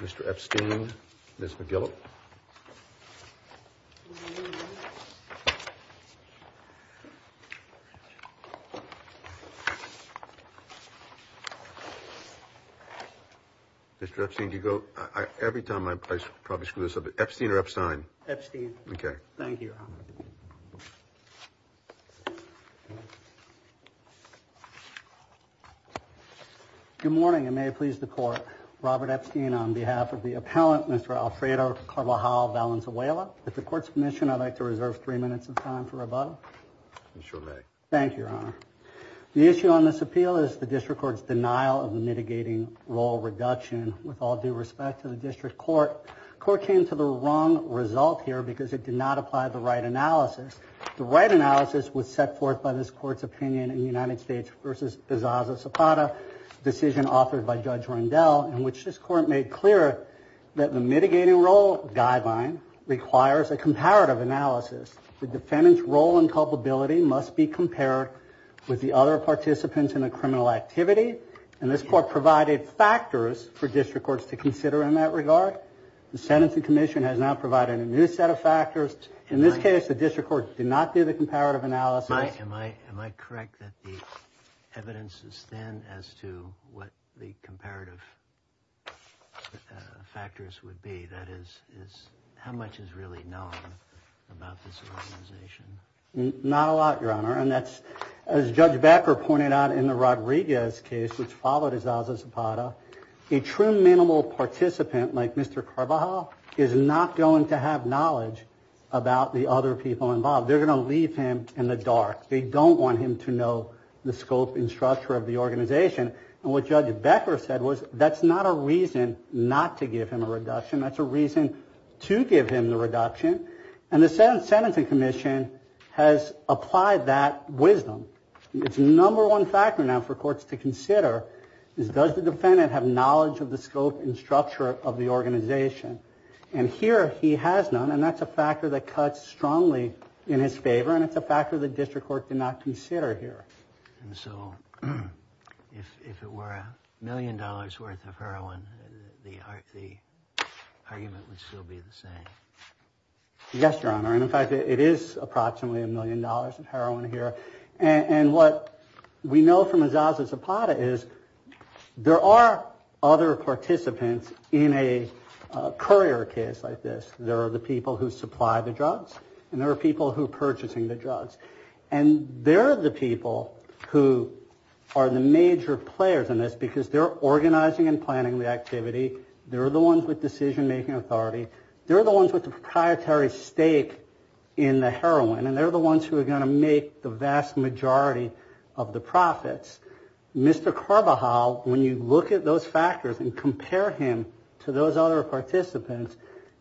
Mr. Epstein, Ms. McGillip. Mr. Epstein, do you go, every time I probably screw this up, but Epstein or Epstein? Epstein. Okay. Thank you. Thank you, Your Honor. Good morning, and may it please the Court. Robert Epstein on behalf of the appellant, Mr. Alfredo Carbajal-Valenzuela. At the Court's permission, I'd like to reserve three minutes of time for rebuttal. You sure may. Thank you, Your Honor. The issue on this appeal is the District Court's denial of the mitigating role reduction. With all due respect to the District Court, the Court came to the wrong result here because it did not apply the right analysis. The right analysis was set forth by this Court's opinion in the United States v. Bezaza-Zapata, a decision offered by Judge Rendell, in which this Court made clear that the mitigating role guideline requires a comparative analysis. The defendant's role and culpability must be compared with the other participants in a criminal activity, and this Court provided factors for District Courts to consider in that regard. The sentencing commission has now provided a new set of factors. In this case, the District Court did not do the comparative analysis. Am I correct that the evidence is thin as to what the comparative factors would be? That is, how much is really known about this organization? Not a lot, Your Honor. As Judge Becker pointed out in the Rodriguez case, which followed Bezaza-Zapata, a true minimal participant like Mr. Carbajal is not going to have knowledge about the other people involved. They're going to leave him in the dark. They don't want him to know the scope and structure of the organization. And what Judge Becker said was that's not a reason not to give him a reduction. That's a reason to give him the reduction. And the sentencing commission has applied that wisdom. It's the number one factor now for courts to consider, is does the defendant have knowledge of the scope and structure of the organization? And here he has none, and that's a factor that cuts strongly in his favor, and it's a factor the District Court did not consider here. And so if it were a million dollars worth of heroin, the argument would still be the same. Yes, Your Honor. And in fact, it is approximately a million dollars of heroin here. And what we know from Bezaza-Zapata is there are other participants in a courier case like this. There are the people who supply the drugs, and there are people who are purchasing the drugs. And they're the people who are the major players in this because they're organizing and planning the activity. They're the ones with decision-making authority. They're the ones with the proprietary stake in the heroin, and they're the ones who are going to make the vast majority of the profits. Mr. Carbajal, when you look at those factors and compare him to those other participants,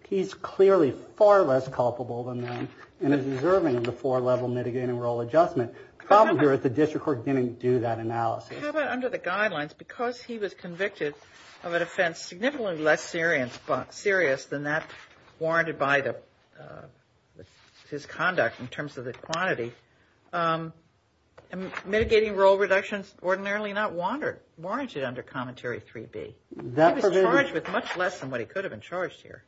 he's clearly far less culpable than them and is deserving of the four-level mitigating role adjustment. The problem here is the District Court didn't do that analysis. How about under the guidelines? Because he was convicted of an offense significantly less serious than that warranted by his conduct in terms of the quantity, mitigating role reductions ordinarily not warranted under Commentary 3B. He was charged with much less than what he could have been charged here.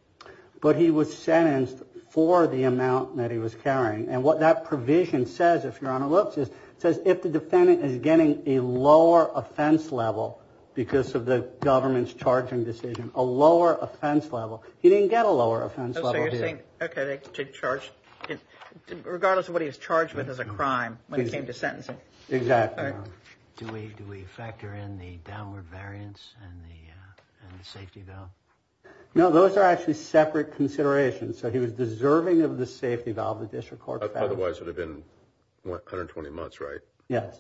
But he was sentenced for the amount that he was carrying. And what that provision says, if Your Honor looks, it says if the defendant is getting a lower offense level because of the government's charging decision, a lower offense level. He didn't get a lower offense level, did he? Okay, regardless of what he was charged with as a crime when it came to sentencing. Exactly. Do we factor in the downward variance and the safety valve? No, those are actually separate considerations. So he was deserving of the safety valve the District Court found. Otherwise it would have been 120 months, right? Yes.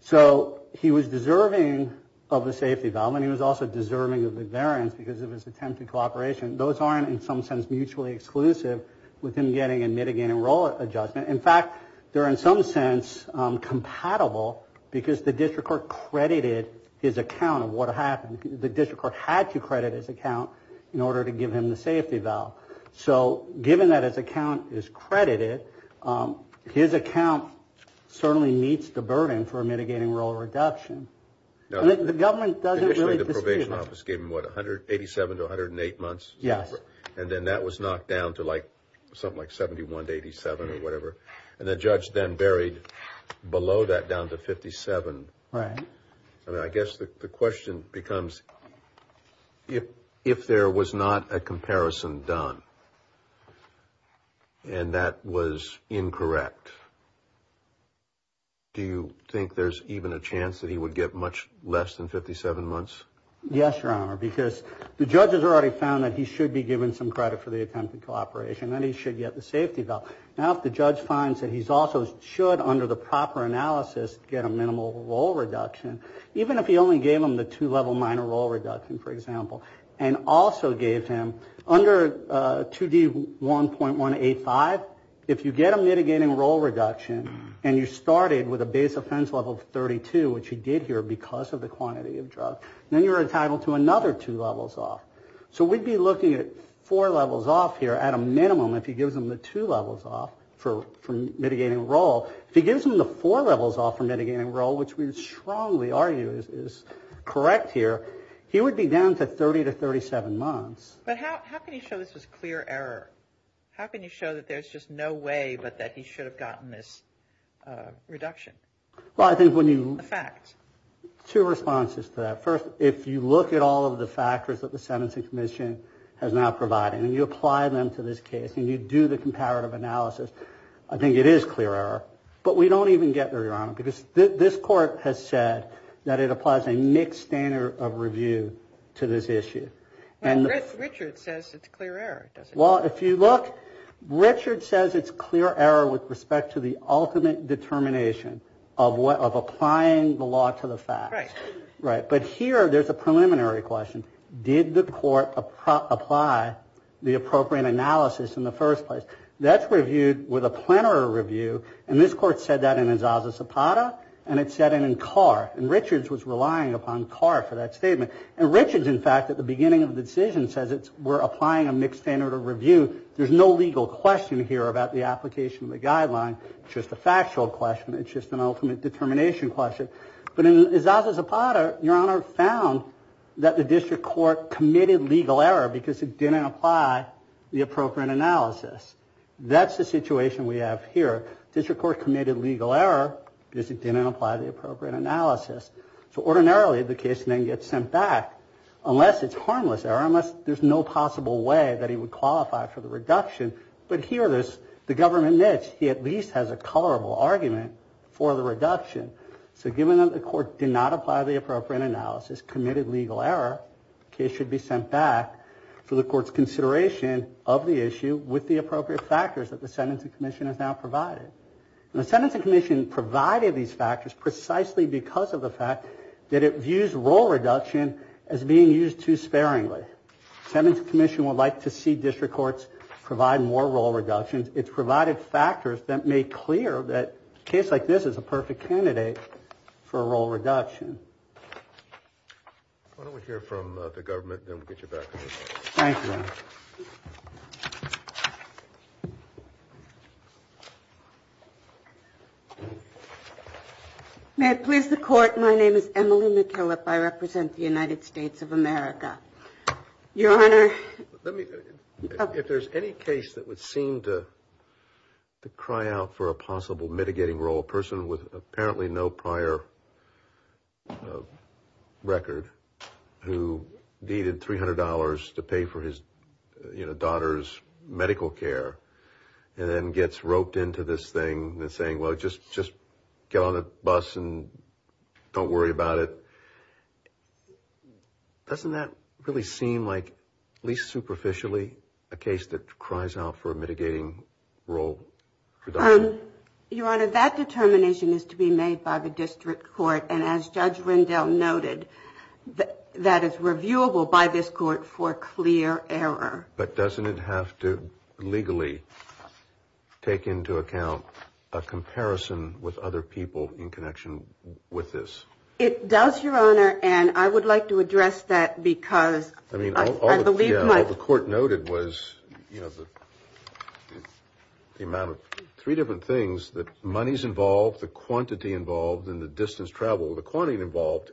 So he was deserving of the safety valve and he was also deserving of the variance because of his attempted cooperation. Those aren't in some sense mutually exclusive with him getting a mitigating role adjustment. In fact, they're in some sense compatible because the District Court credited his account of what happened. The District Court had to credit his account in order to give him the safety valve. So given that his account is credited, his account certainly meets the burden for a mitigating role reduction. The government doesn't really dispute that. Initially the probation office gave him, what, 187 to 108 months? Yes. And then that was knocked down to something like 71 to 87 or whatever. And the judge then buried below that down to 57. Right. I mean, I guess the question becomes if there was not a comparison done and that was incorrect, do you think there's even a chance that he would get much less than 57 months? Yes, Your Honor, because the judge has already found that he should be given some credit for the attempted cooperation and he should get the safety valve. Now if the judge finds that he also should, under the proper analysis, get a minimal role reduction, even if he only gave him the two-level minor role reduction, for example, and also gave him under 2D1.185, if you get a mitigating role reduction and you started with a base offense level of 32, which you did here because of the quantity of drugs, then you're entitled to another two levels off. So we'd be looking at four levels off here at a minimum if he gives them the two levels off for mitigating role. If he gives them the four levels off for mitigating role, which we strongly argue is correct here, he would be down to 30 to 37 months. But how can you show this was clear error? How can you show that there's just no way but that he should have gotten this reduction? Well, I think when you... The facts. Two responses to that. First, if you look at all of the factors that the Sentencing Commission has now provided and you apply them to this case and you do the comparative analysis, I think it is clear error. But we don't even get there, Your Honor, because this court has said that it applies a mixed standard of review to this issue. And Richard says it's clear error, doesn't he? Well, if you look, Richard says it's clear error with respect to the ultimate determination of applying the law to the facts. Right. Right. But here there's a preliminary question. Did the court apply the appropriate analysis in the first place? That's reviewed with a plenary review, and this court said that in Izaza Zapata, and it said it in Carr. And Richard was relying upon Carr for that statement. And Richard, in fact, at the beginning of the decision says we're applying a mixed standard of review. There's no legal question here about the application of the guideline. It's just a factual question. It's just an ultimate determination question. But in Izaza Zapata, Your Honor, found that the district court committed legal error because it didn't apply the appropriate analysis. That's the situation we have here. District court committed legal error because it didn't apply the appropriate analysis. So ordinarily the case then gets sent back unless it's harmless error, unless there's no possible way that he would qualify for the reduction. But here there's the government niche. He at least has a colorable argument for the reduction. So given that the court did not apply the appropriate analysis, committed legal error, the case should be sent back for the court's consideration of the issue with the appropriate factors that the Sentencing Commission has now provided. And the Sentencing Commission provided these factors precisely because of the fact that it views role reduction as being used too sparingly. The Sentencing Commission would like to see district courts provide more role reductions. It's provided factors that make clear that a case like this is a perfect candidate for a role reduction. Why don't we hear from the government and then we'll get you back to me. Thank you. May it please the court, my name is Emily McKillop. I represent the United States of America. Your Honor. If there's any case that would seem to cry out for a possible mitigating role, a person with apparently no prior record who needed $300 to pay for his daughter's medical care and then gets roped into this thing saying, well, just get on the bus and don't worry about it. Doesn't that really seem like, at least superficially, a case that cries out for a mitigating role reduction? Your Honor, that determination is to be made by the district court. And as Judge Rendell noted, that is reviewable by this court for clear error. But doesn't it have to legally take into account a comparison with other people in connection with this? It does, Your Honor, and I would like to address that because I believe my What the court noted was the amount of three different things, the monies involved, the quantity involved, and the distance traveled. The quantity involved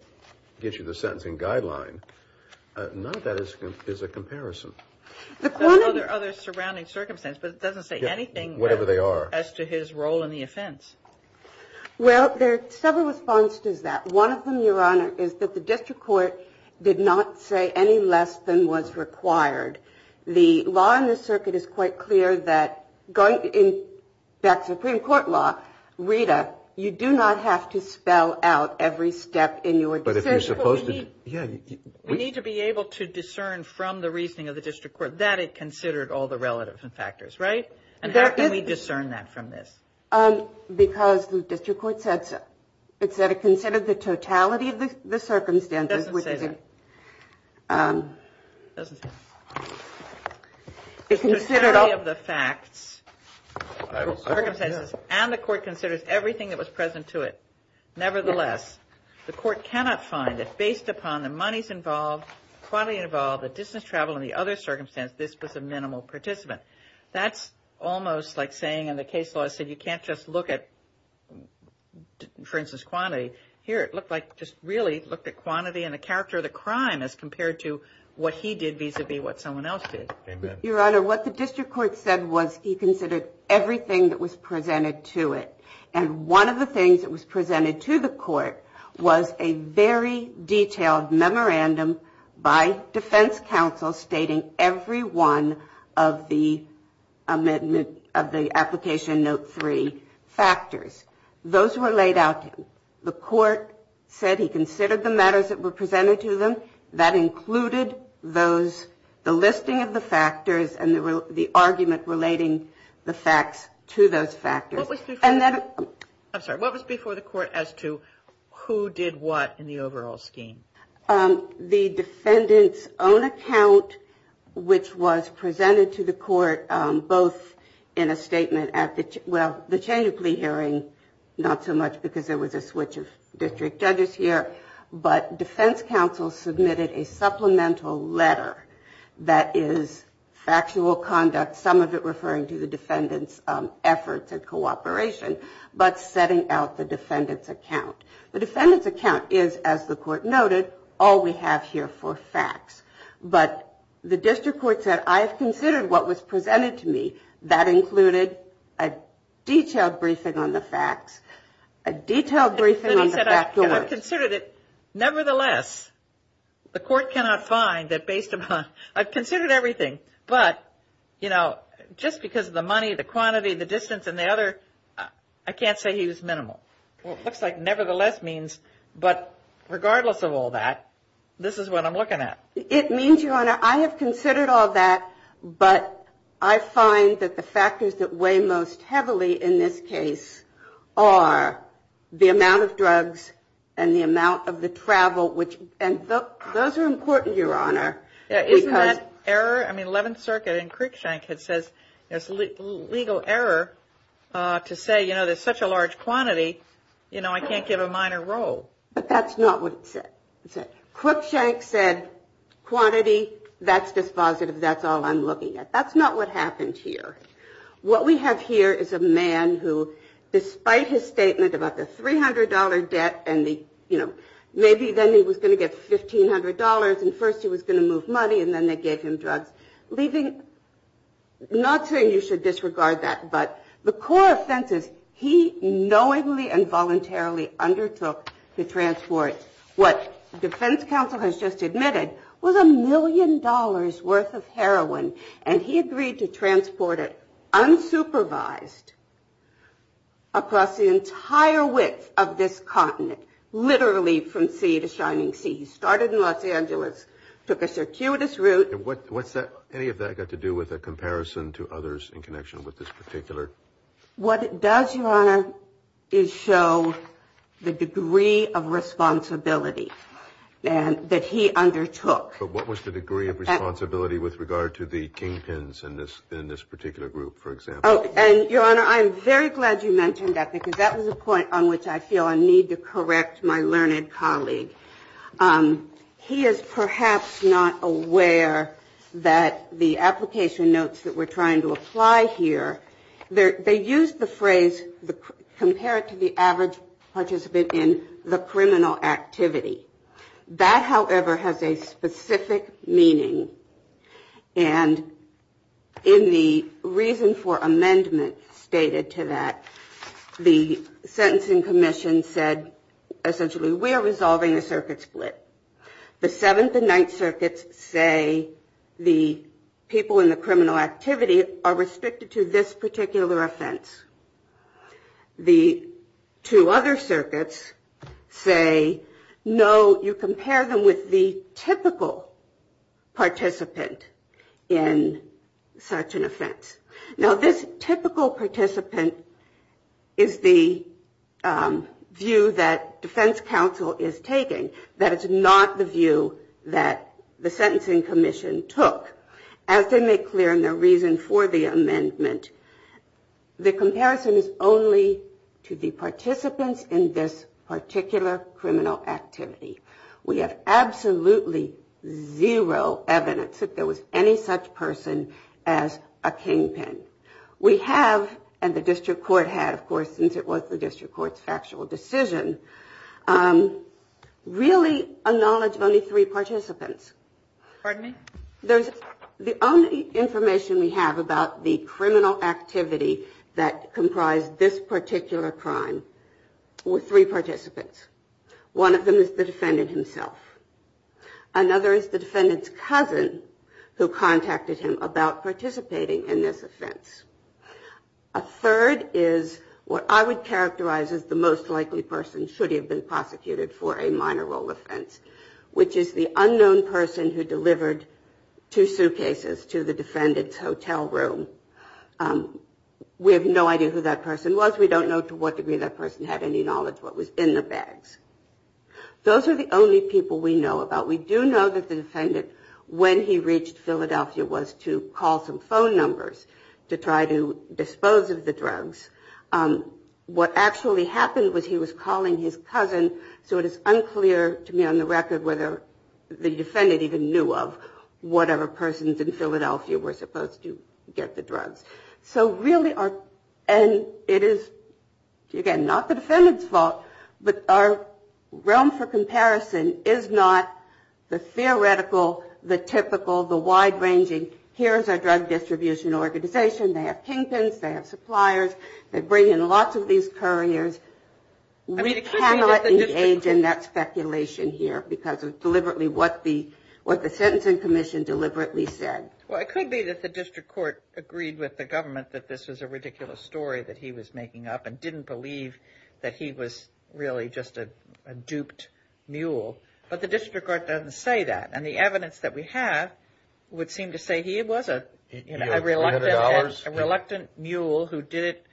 gives you the sentencing guideline. None of that is a comparison. There are other surrounding circumstances, but it doesn't say anything as to his role in the offense. Well, there are several responses to that. One of them, Your Honor, is that the district court did not say any less than was required. The law in the circuit is quite clear that going back to Supreme Court law, Rita, you do not have to spell out every step in your decision. We need to be able to discern from the reasoning of the district court that it considered all the relative factors, right? And how can we discern that from this? Because the district court said so. It said it considered the totality of the circumstances. It doesn't say that. It doesn't say that. It considered all the facts, circumstances, and the court considers everything that was present to it. Nevertheless, the court cannot find that based upon the monies involved, quantity involved, the distance traveled, and the other circumstance, this was a minimal participant. That's almost like saying, and the case law said you can't just look at, for instance, quantity. Here it looked like just really looked at quantity and the character of the crime as compared to what he did vis-à-vis what someone else did. Your Honor, what the district court said was he considered everything that was presented to it. And one of the things that was presented to the court was a very detailed memorandum by defense counsel stating every one of the application note three factors. Those were laid out. The court said he considered the matters that were presented to them. That included those, the listing of the factors and the argument relating the facts to those factors. I'm sorry, what was before the court as to who did what in the overall scheme? The defendant's own account, which was presented to the court both in a statement at the change of plea hearing, not so much because there was a switch of district judges here, but defense counsel submitted a supplemental letter that is factual conduct, some of it referring to the defendant's efforts and cooperation, but setting out the defendant's account. The defendant's account is, as the court noted, all we have here for facts. But the district court said, I have considered what was presented to me. That included a detailed briefing on the facts, a detailed briefing on the factors. And he said, I've considered it. Nevertheless, the court cannot find that based upon, I've considered everything. But, you know, just because of the money, the quantity, the distance, and the other, I can't say he was minimal. Well, it looks like nevertheless means, but regardless of all that, this is what I'm looking at. It means, Your Honor, I have considered all that, but I find that the factors that weigh most heavily in this case are the amount of drugs and the amount of the travel, and those are important, Your Honor. Isn't that error? I mean, Eleventh Circuit and Cruikshank had said there's legal error to say, you know, there's such a large quantity, you know, I can't give a minor role. But that's not what it said. Cruikshank said quantity, that's dispositive, that's all I'm looking at. That's not what happened here. What we have here is a man who, despite his statement about the $300 debt and the, you know, maybe then he was going to get $1,500, and first he was going to move money, and then they gave him drugs, leaving, not saying you should disregard that, but the core offenses he knowingly and voluntarily undertook to transport, what defense counsel has just admitted, was a million dollars worth of heroin, and he agreed to transport it unsupervised across the entire width of this continent, literally from sea to shining sea. He started in Los Angeles, took a circuitous route. And what's that, any of that got to do with a comparison to others in connection with this particular? What it does, Your Honor, is show the degree of responsibility that he undertook. But what was the degree of responsibility with regard to the kingpins in this particular group, for example? And, Your Honor, I'm very glad you mentioned that, because that was a point on which I feel a need to correct my learned colleague. He is perhaps not aware that the application notes that we're trying to apply here, they use the phrase compare it to the average participant in the criminal activity. That, however, has a specific meaning. And in the reason for amendment stated to that, the sentencing commission said essentially we are resolving a circuit split. The Seventh and Ninth Circuits say the people in the criminal activity are restricted to this particular offense. The two other circuits say, no, you compare them with the typical participant in such an offense. Now, this typical participant is the view that defense counsel is taking. That is not the view that the sentencing commission took. However, as they make clear in their reason for the amendment, the comparison is only to the participants in this particular criminal activity. We have absolutely zero evidence that there was any such person as a kingpin. We have, and the district court had, of course, since it was the district court's factual decision, really a knowledge of only three participants. The only information we have about the criminal activity that comprised this particular crime were three participants. One of them is the defendant himself. Another is the defendant's cousin who contacted him about participating in this offense. A third is what I would characterize as the most likely person should he have been prosecuted for a minor role offense, which is the unknown person who delivered two suitcases to the defendant's hotel room. We have no idea who that person was. We don't know to what degree that person had any knowledge what was in the bags. Those are the only people we know about. We do know that the defendant, when he reached Philadelphia, was to call some phone numbers to try to dispose of the drugs. What actually happened was he was calling his cousin, so it is unclear to me on the record whether the defendant even knew of whatever persons in the bag that was in the suitcase. So really, and it is, again, not the defendant's fault, but our realm for comparison is not the theoretical, the typical, the wide-ranging, here is our drug distribution organization. They have kingpins, they have suppliers, they bring in lots of these couriers. We cannot engage in that speculation here because of deliberately what the sentencing commission deliberately said. Well, it could be that the district court agreed with the government that this was a ridiculous story that he was making up and didn't believe that he was really just a duped mule. But the district court doesn't say that, and the evidence that we have would seem to say he was a reluctant mule who did it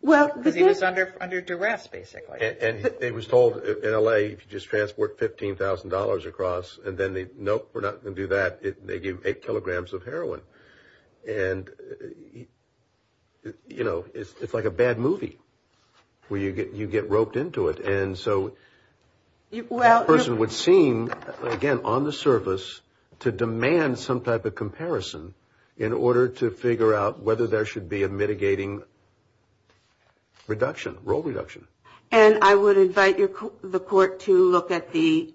because he was under duress, basically. And he was told in L.A. if you just transport $15,000 across, and then they, nope, we're not going to do that. They give eight kilograms of heroin. And, you know, it's like a bad movie where you get roped into it. And so that person would seem, again, on the surface to demand some type of comparison in order to figure out whether there should be a mitigating reduction, role reduction. And I would invite the court to look at the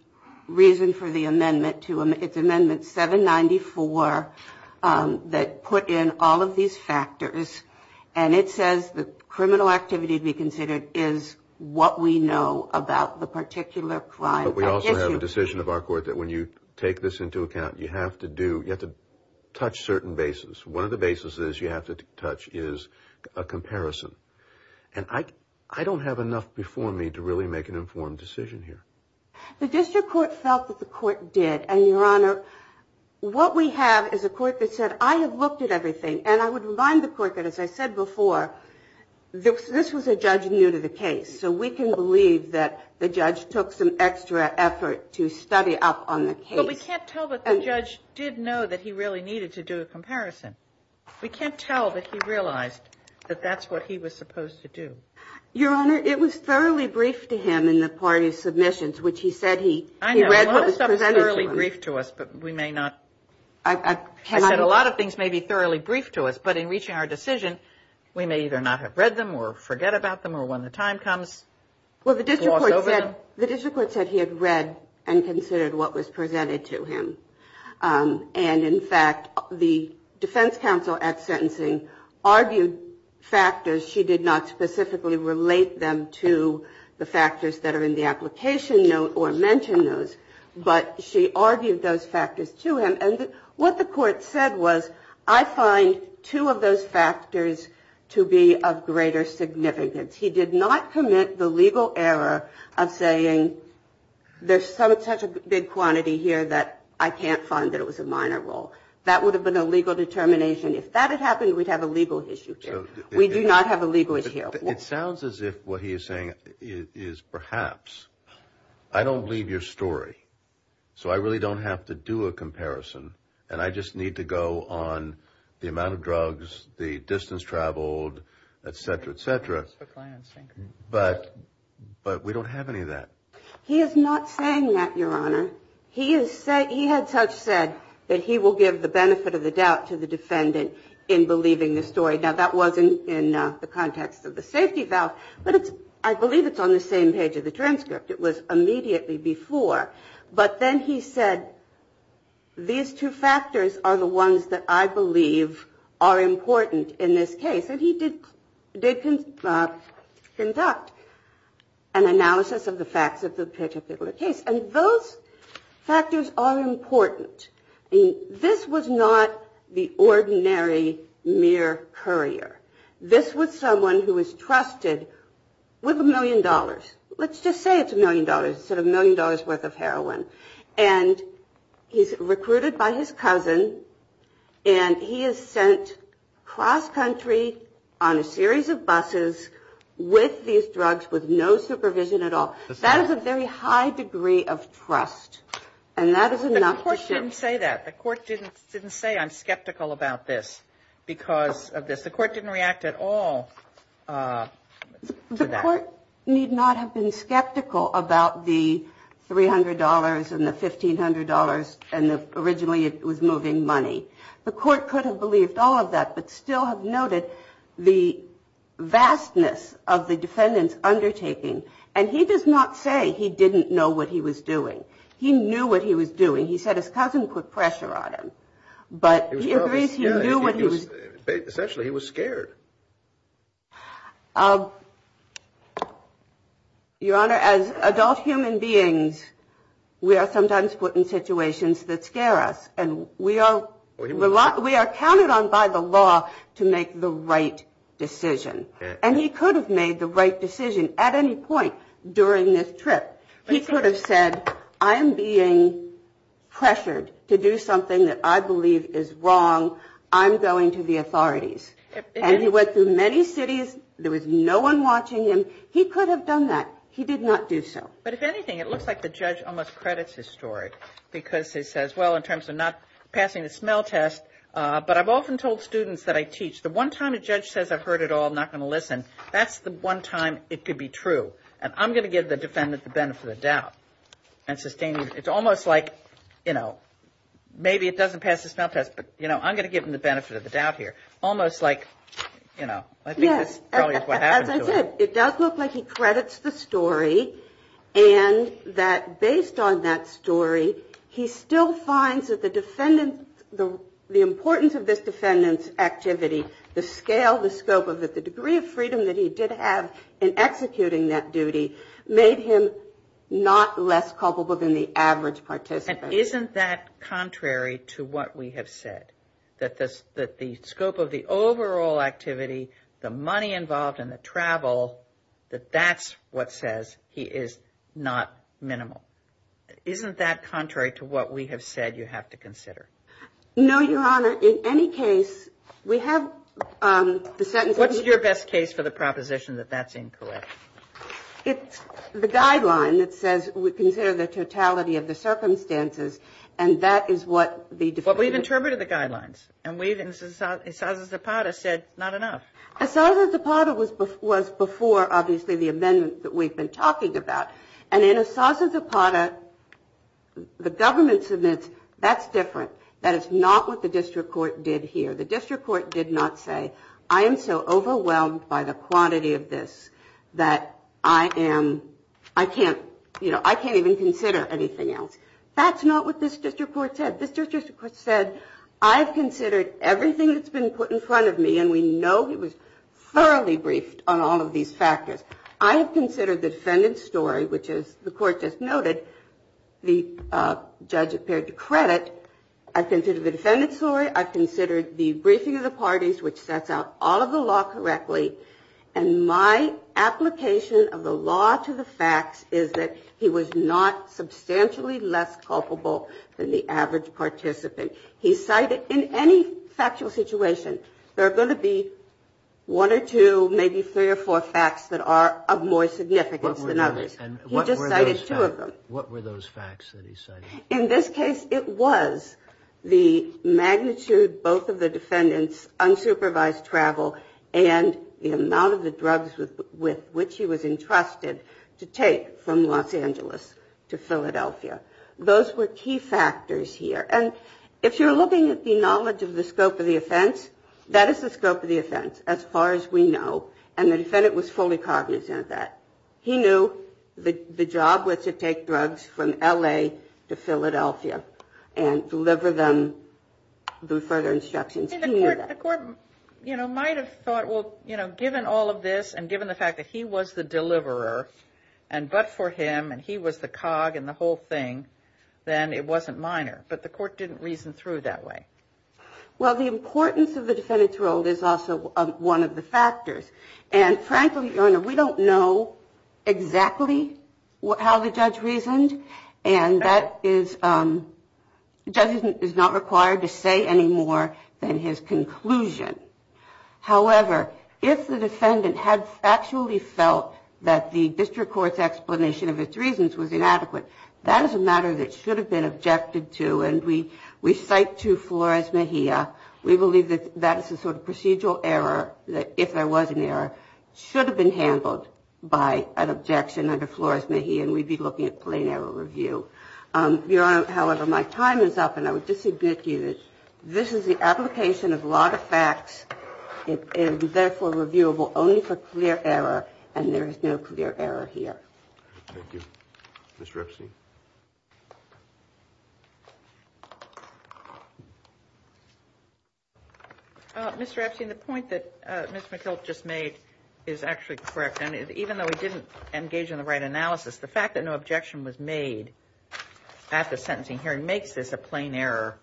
reason for the amendment. It's amendment 794 that put in all of these factors. And it says the criminal activity to be considered is what we know about the particular crime. But we also have a decision of our court that when you take this into account, you have to do, you have to touch certain bases. One of the bases is you have to touch is a comparison. And I don't have enough before me to really make an informed decision here. The district court felt that the court did, and, Your Honor, what we have is a court that said I have looked at everything. And I would remind the court that, as I said before, this was a judge new to the case. So we can believe that the judge took some extra effort to study up on the case. But we can't tell that the judge did know that he really needed to do a comparison. We can't tell that he realized that that's what he was supposed to do. Your Honor, it was thoroughly briefed to him in the party's submissions, which he said he read what was presented to him. I know. A lot of stuff is thoroughly briefed to us, but we may not. And, in fact, the defense counsel at sentencing argued factors. She did not specifically relate them to the factors that are in the application note or mention those, but she argued those factors to him. And what the court said was I find two of those factors to be of greater significance. He did not commit the legal error of saying there's such a big quantity here that I can't find that it was a minor role. That would have been a legal determination. If that had happened, we'd have a legal issue here. We do not have a legal issue here. It sounds as if what he is saying is perhaps. I don't believe your story, so I really don't have to do a comparison. And I just need to go on the amount of drugs, the distance traveled, et cetera, et cetera. But but we don't have any of that. He is not saying that your honor. He is saying he had such said that he will give the benefit of the doubt to the defendant in believing the story. Now, that wasn't in the context of the safety valve, but I believe it's on the same page of the transcript. It was immediately before. But then he said these two factors are the ones that I believe are important in this case. And he did did conduct an analysis of the facts of the particular case. And those factors are important. This was not the ordinary mere courier. This was someone who was trusted with a million dollars. Let's just say it's a million dollars. It's a million dollars worth of heroin. And he's recruited by his cousin, and he is sent cross country on a series of buses with these drugs with no supervision at all. That is a very high degree of trust. And that is enough to say that the court didn't didn't say I'm skeptical about this because of this. The court didn't react at all. The court need not have been skeptical about the three hundred dollars and the fifteen hundred dollars. And originally it was moving money. The court could have believed all of that, but still have noted the vastness of the defendant's undertaking. And he does not say he didn't know what he was doing. He knew what he was doing. He said his cousin put pressure on him. But he agrees he knew what he was doing. Essentially, he was scared. Your Honor, as adult human beings, we are sometimes put in situations that scare us. And we are we are counted on by the law to make the right decision. And he could have made the right decision at any point during this trip. He could have said I am being pressured to do something that I believe is wrong. I'm going to the authorities. And he went through many cities. There was no one watching him. He could have done that. He did not do so. But if anything, it looks like the judge almost credits his story because he says, well, in terms of not passing the smell test, but I've often told students that I teach. The one time a judge says I've heard it all, I'm not going to listen, that's the one time it could be true. And I'm going to give the defendant the benefit of the doubt and sustain it. It's almost like, you know, maybe it doesn't pass the smell test, but, you know, I'm going to give him the benefit of the doubt here. Almost like, you know, I think that's probably what happened. It does look like he credits the story and that based on that story, he still finds that the defendant the importance of this defendant's activity. The scale, the scope of it, the degree of freedom that he did have in executing that duty made him not less culpable than the average participant. And isn't that contrary to what we have said? That the scope of the overall activity, the money involved and the travel, that that's what says he is not minimal? Isn't that contrary to what we have said you have to consider? What's your best case for the proposition that that's incorrect? It's the guideline that says we consider the totality of the circumstances and that is what the defendant... But we've interpreted the guidelines and we've, in the case of Assaz-Zapata, said not enough. Assaz-Zapata was before, obviously, the amendment that we've been talking about. And in Assaz-Zapata, the government submits, that's different. That is not what the district court did here. The district court did not say, I am so overwhelmed by the quantity of this that I am, I can't, you know, I can't even consider anything else. That's not what this district court said. This district court said, I've considered everything that's been put in front of me and we know he was thoroughly briefed on all of these factors. I have considered the defendant's story, which as the court just noted, the judge appeared to credit. I've considered the defendant's story. I've considered the defendant's story. I've considered the debriefing of the parties, which sets out all of the law correctly. And my application of the law to the facts is that he was not substantially less culpable than the average participant. He cited, in any factual situation, there are going to be one or two, maybe three or four facts that are of more significance than others. He just cited two of them. What were those facts that he cited? In this case, it was the magnitude, both of the defendant's unsupervised travel and the amount of the drugs with which he was entrusted to take from Los Angeles to Philadelphia. Those were key factors here. And if you're looking at the knowledge of the scope of the offense, that is the scope of the offense as far as we know. And the defendant was fully cognizant of that. He knew the job was to take drugs from L.A. to Philadelphia and deliver them through further instructions. He knew that. The court, you know, might have thought, well, you know, given all of this and given the fact that he was the deliverer, and but for him, and he was the cog in the whole thing, then it wasn't minor. But the court didn't reason through it that way. Well, the importance of the defendant's role is also one of the factors. And frankly, Your Honor, we don't know the extent to which the defendant's role is important. We don't know exactly how the judge reasoned. And that is, the judge is not required to say any more than his conclusion. However, if the defendant had actually felt that the district court's explanation of its reasons was inadequate, that is a matter that should have been objected to. And we cite to Flores Mejia, we believe that that is a sort of procedural error, that if there was an error, should have been handled by an objection. And if there was an objection, under Flores Mejia, we'd be looking at plain error review. Your Honor, however, my time is up, and I would just submit to you that this is the application of a lot of facts. It is, therefore, reviewable only for clear error, and there is no clear error here. Thank you. Ms. Ripson? Ms. Ripson, the point that Ms. McKillop just made is actually correct. I engage in the right analysis. The fact that no objection was made at the sentencing hearing makes this a plain error,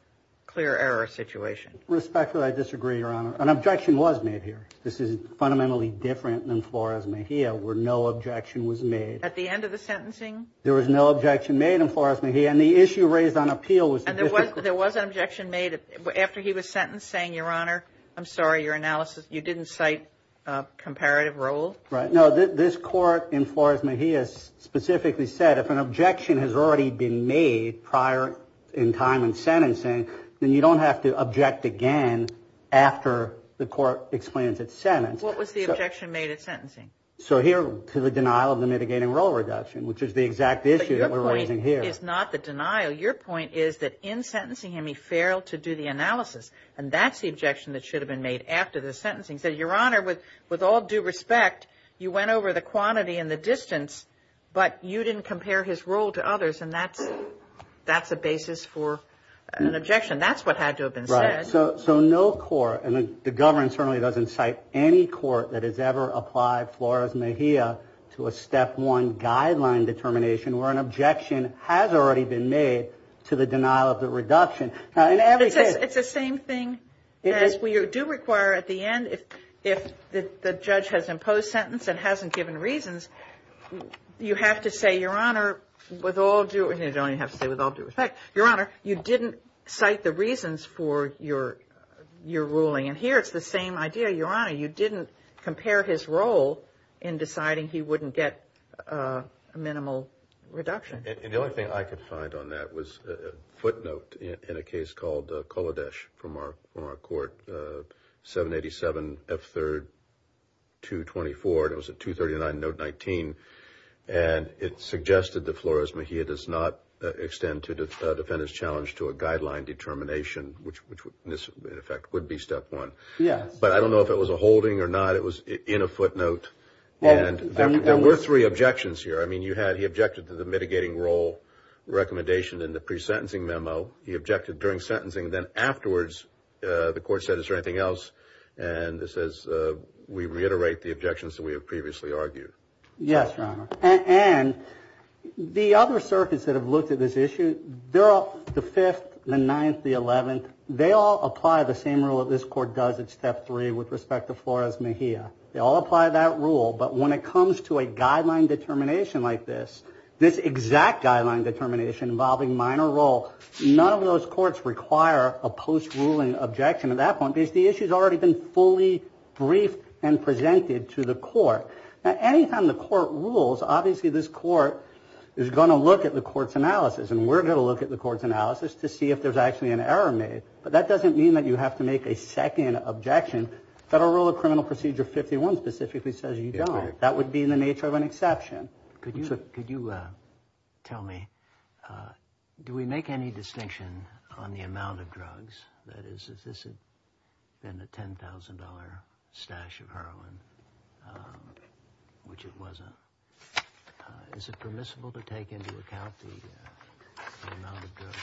clear error situation. Respectfully, I disagree, Your Honor. An objection was made here. This is fundamentally different than Flores Mejia, where no objection was made. At the end of the sentencing? There was no objection made in Flores Mejia, and the issue raised on appeal was... And there was an objection made after he was sentenced, saying, Your Honor, I'm sorry, your analysis, you didn't cite comparative role? Right. No, this Court in Flores Mejia specifically said if an objection has already been made prior in time in sentencing, then you don't have to object again after the Court explains its sentence. What was the objection made at sentencing? So here, to the denial of the mitigating role reduction, which is the exact issue that we're raising here. But your point is not the denial. Your point is that in sentencing him, he failed to do the analysis, and that's the objection that should have been made after the sentencing. He said, Your Honor, with all due respect, you went over the quantity and the distance, but you didn't compare his role to others, and that's a basis for an objection. That's what had to have been said. And that's what led Flores Mejia to a step one guideline determination, where an objection has already been made to the denial of the reduction. It's the same thing as we do require at the end, if the judge has imposed sentence and hasn't given reasons, you have to say, Your Honor, with all due respect, Your Honor, you didn't cite the reasons for your ruling. And here it's the same idea, Your Honor, you didn't compare his role in deciding he wouldn't get a minimal reduction. And the only thing I could find on that was a footnote in a case called Kolodesh from our Court, 787F3-224, and it was a 239 note 19, and it suggested that Flores Mejia does not extend to a defendant's challenge to a guideline determination, which in effect would be step one. But I don't know if it was a holding or not, it was in a footnote. And there were three objections here. I mean, you had, he objected to the mitigating role recommendation in the pre-sentencing memo, he objected during sentencing, then afterwards the Court said, Is there anything else? And it says, We reiterate the objections that we have previously argued. Yes, Your Honor. And the other circuits that have looked at this issue, they're all, the Fifth, the Ninth, the Eleventh, they all apply the same rule that this Court does at step three with respect to Flores Mejia. They all apply that rule, but when it comes to a guideline determination like this, this exact guideline determination involving minor role, none of those courts require a post-ruling objection at that point, because the issue's already been fully briefed and presented to the Court. Now, any time the Court rules, obviously this Court is going to look at the Court's analysis, and we're going to look at the Court's analysis to see if there's actually an error made. But that doesn't mean that you have to make a second objection. Federal Rule of Criminal Procedure 51 specifically says you don't. That would be in the nature of an exception. Could you tell me, do we make any distinction on the amount of drugs? That is, if this had been a $10,000 stash of heroin, which it wasn't, is it permissible to take into account the amount of drugs?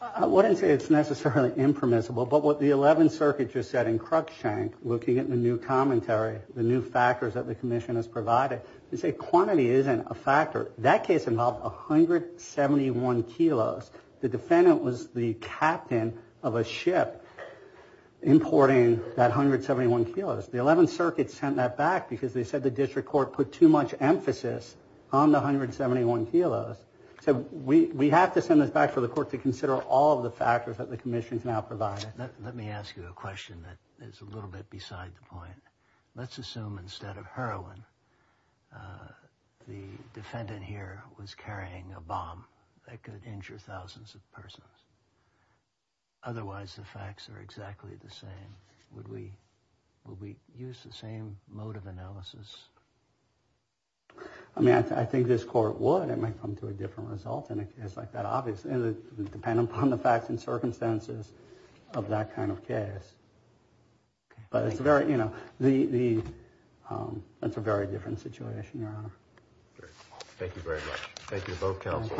I wouldn't say it's necessarily impermissible, but what the Eleventh Circuit just said in Cruikshank, looking at the new commentary, the new factors that the Commission has provided, they say quantity is important. Quantity isn't a factor. That case involved 171 kilos. The defendant was the captain of a ship importing that 171 kilos. The Eleventh Circuit sent that back because they said the District Court put too much emphasis on the 171 kilos. So we have to send this back for the Court to consider all of the factors that the Commission's now provided. The defendant here was carrying a bomb that could injure thousands of persons. Otherwise, the facts are exactly the same. Would we use the same mode of analysis? I mean, I think this Court would. It might come to a different result in a case like that. It depends upon the facts and circumstances of that kind of case. But it's a very different situation, Your Honor. Thank you very much. Thank you to both counsels.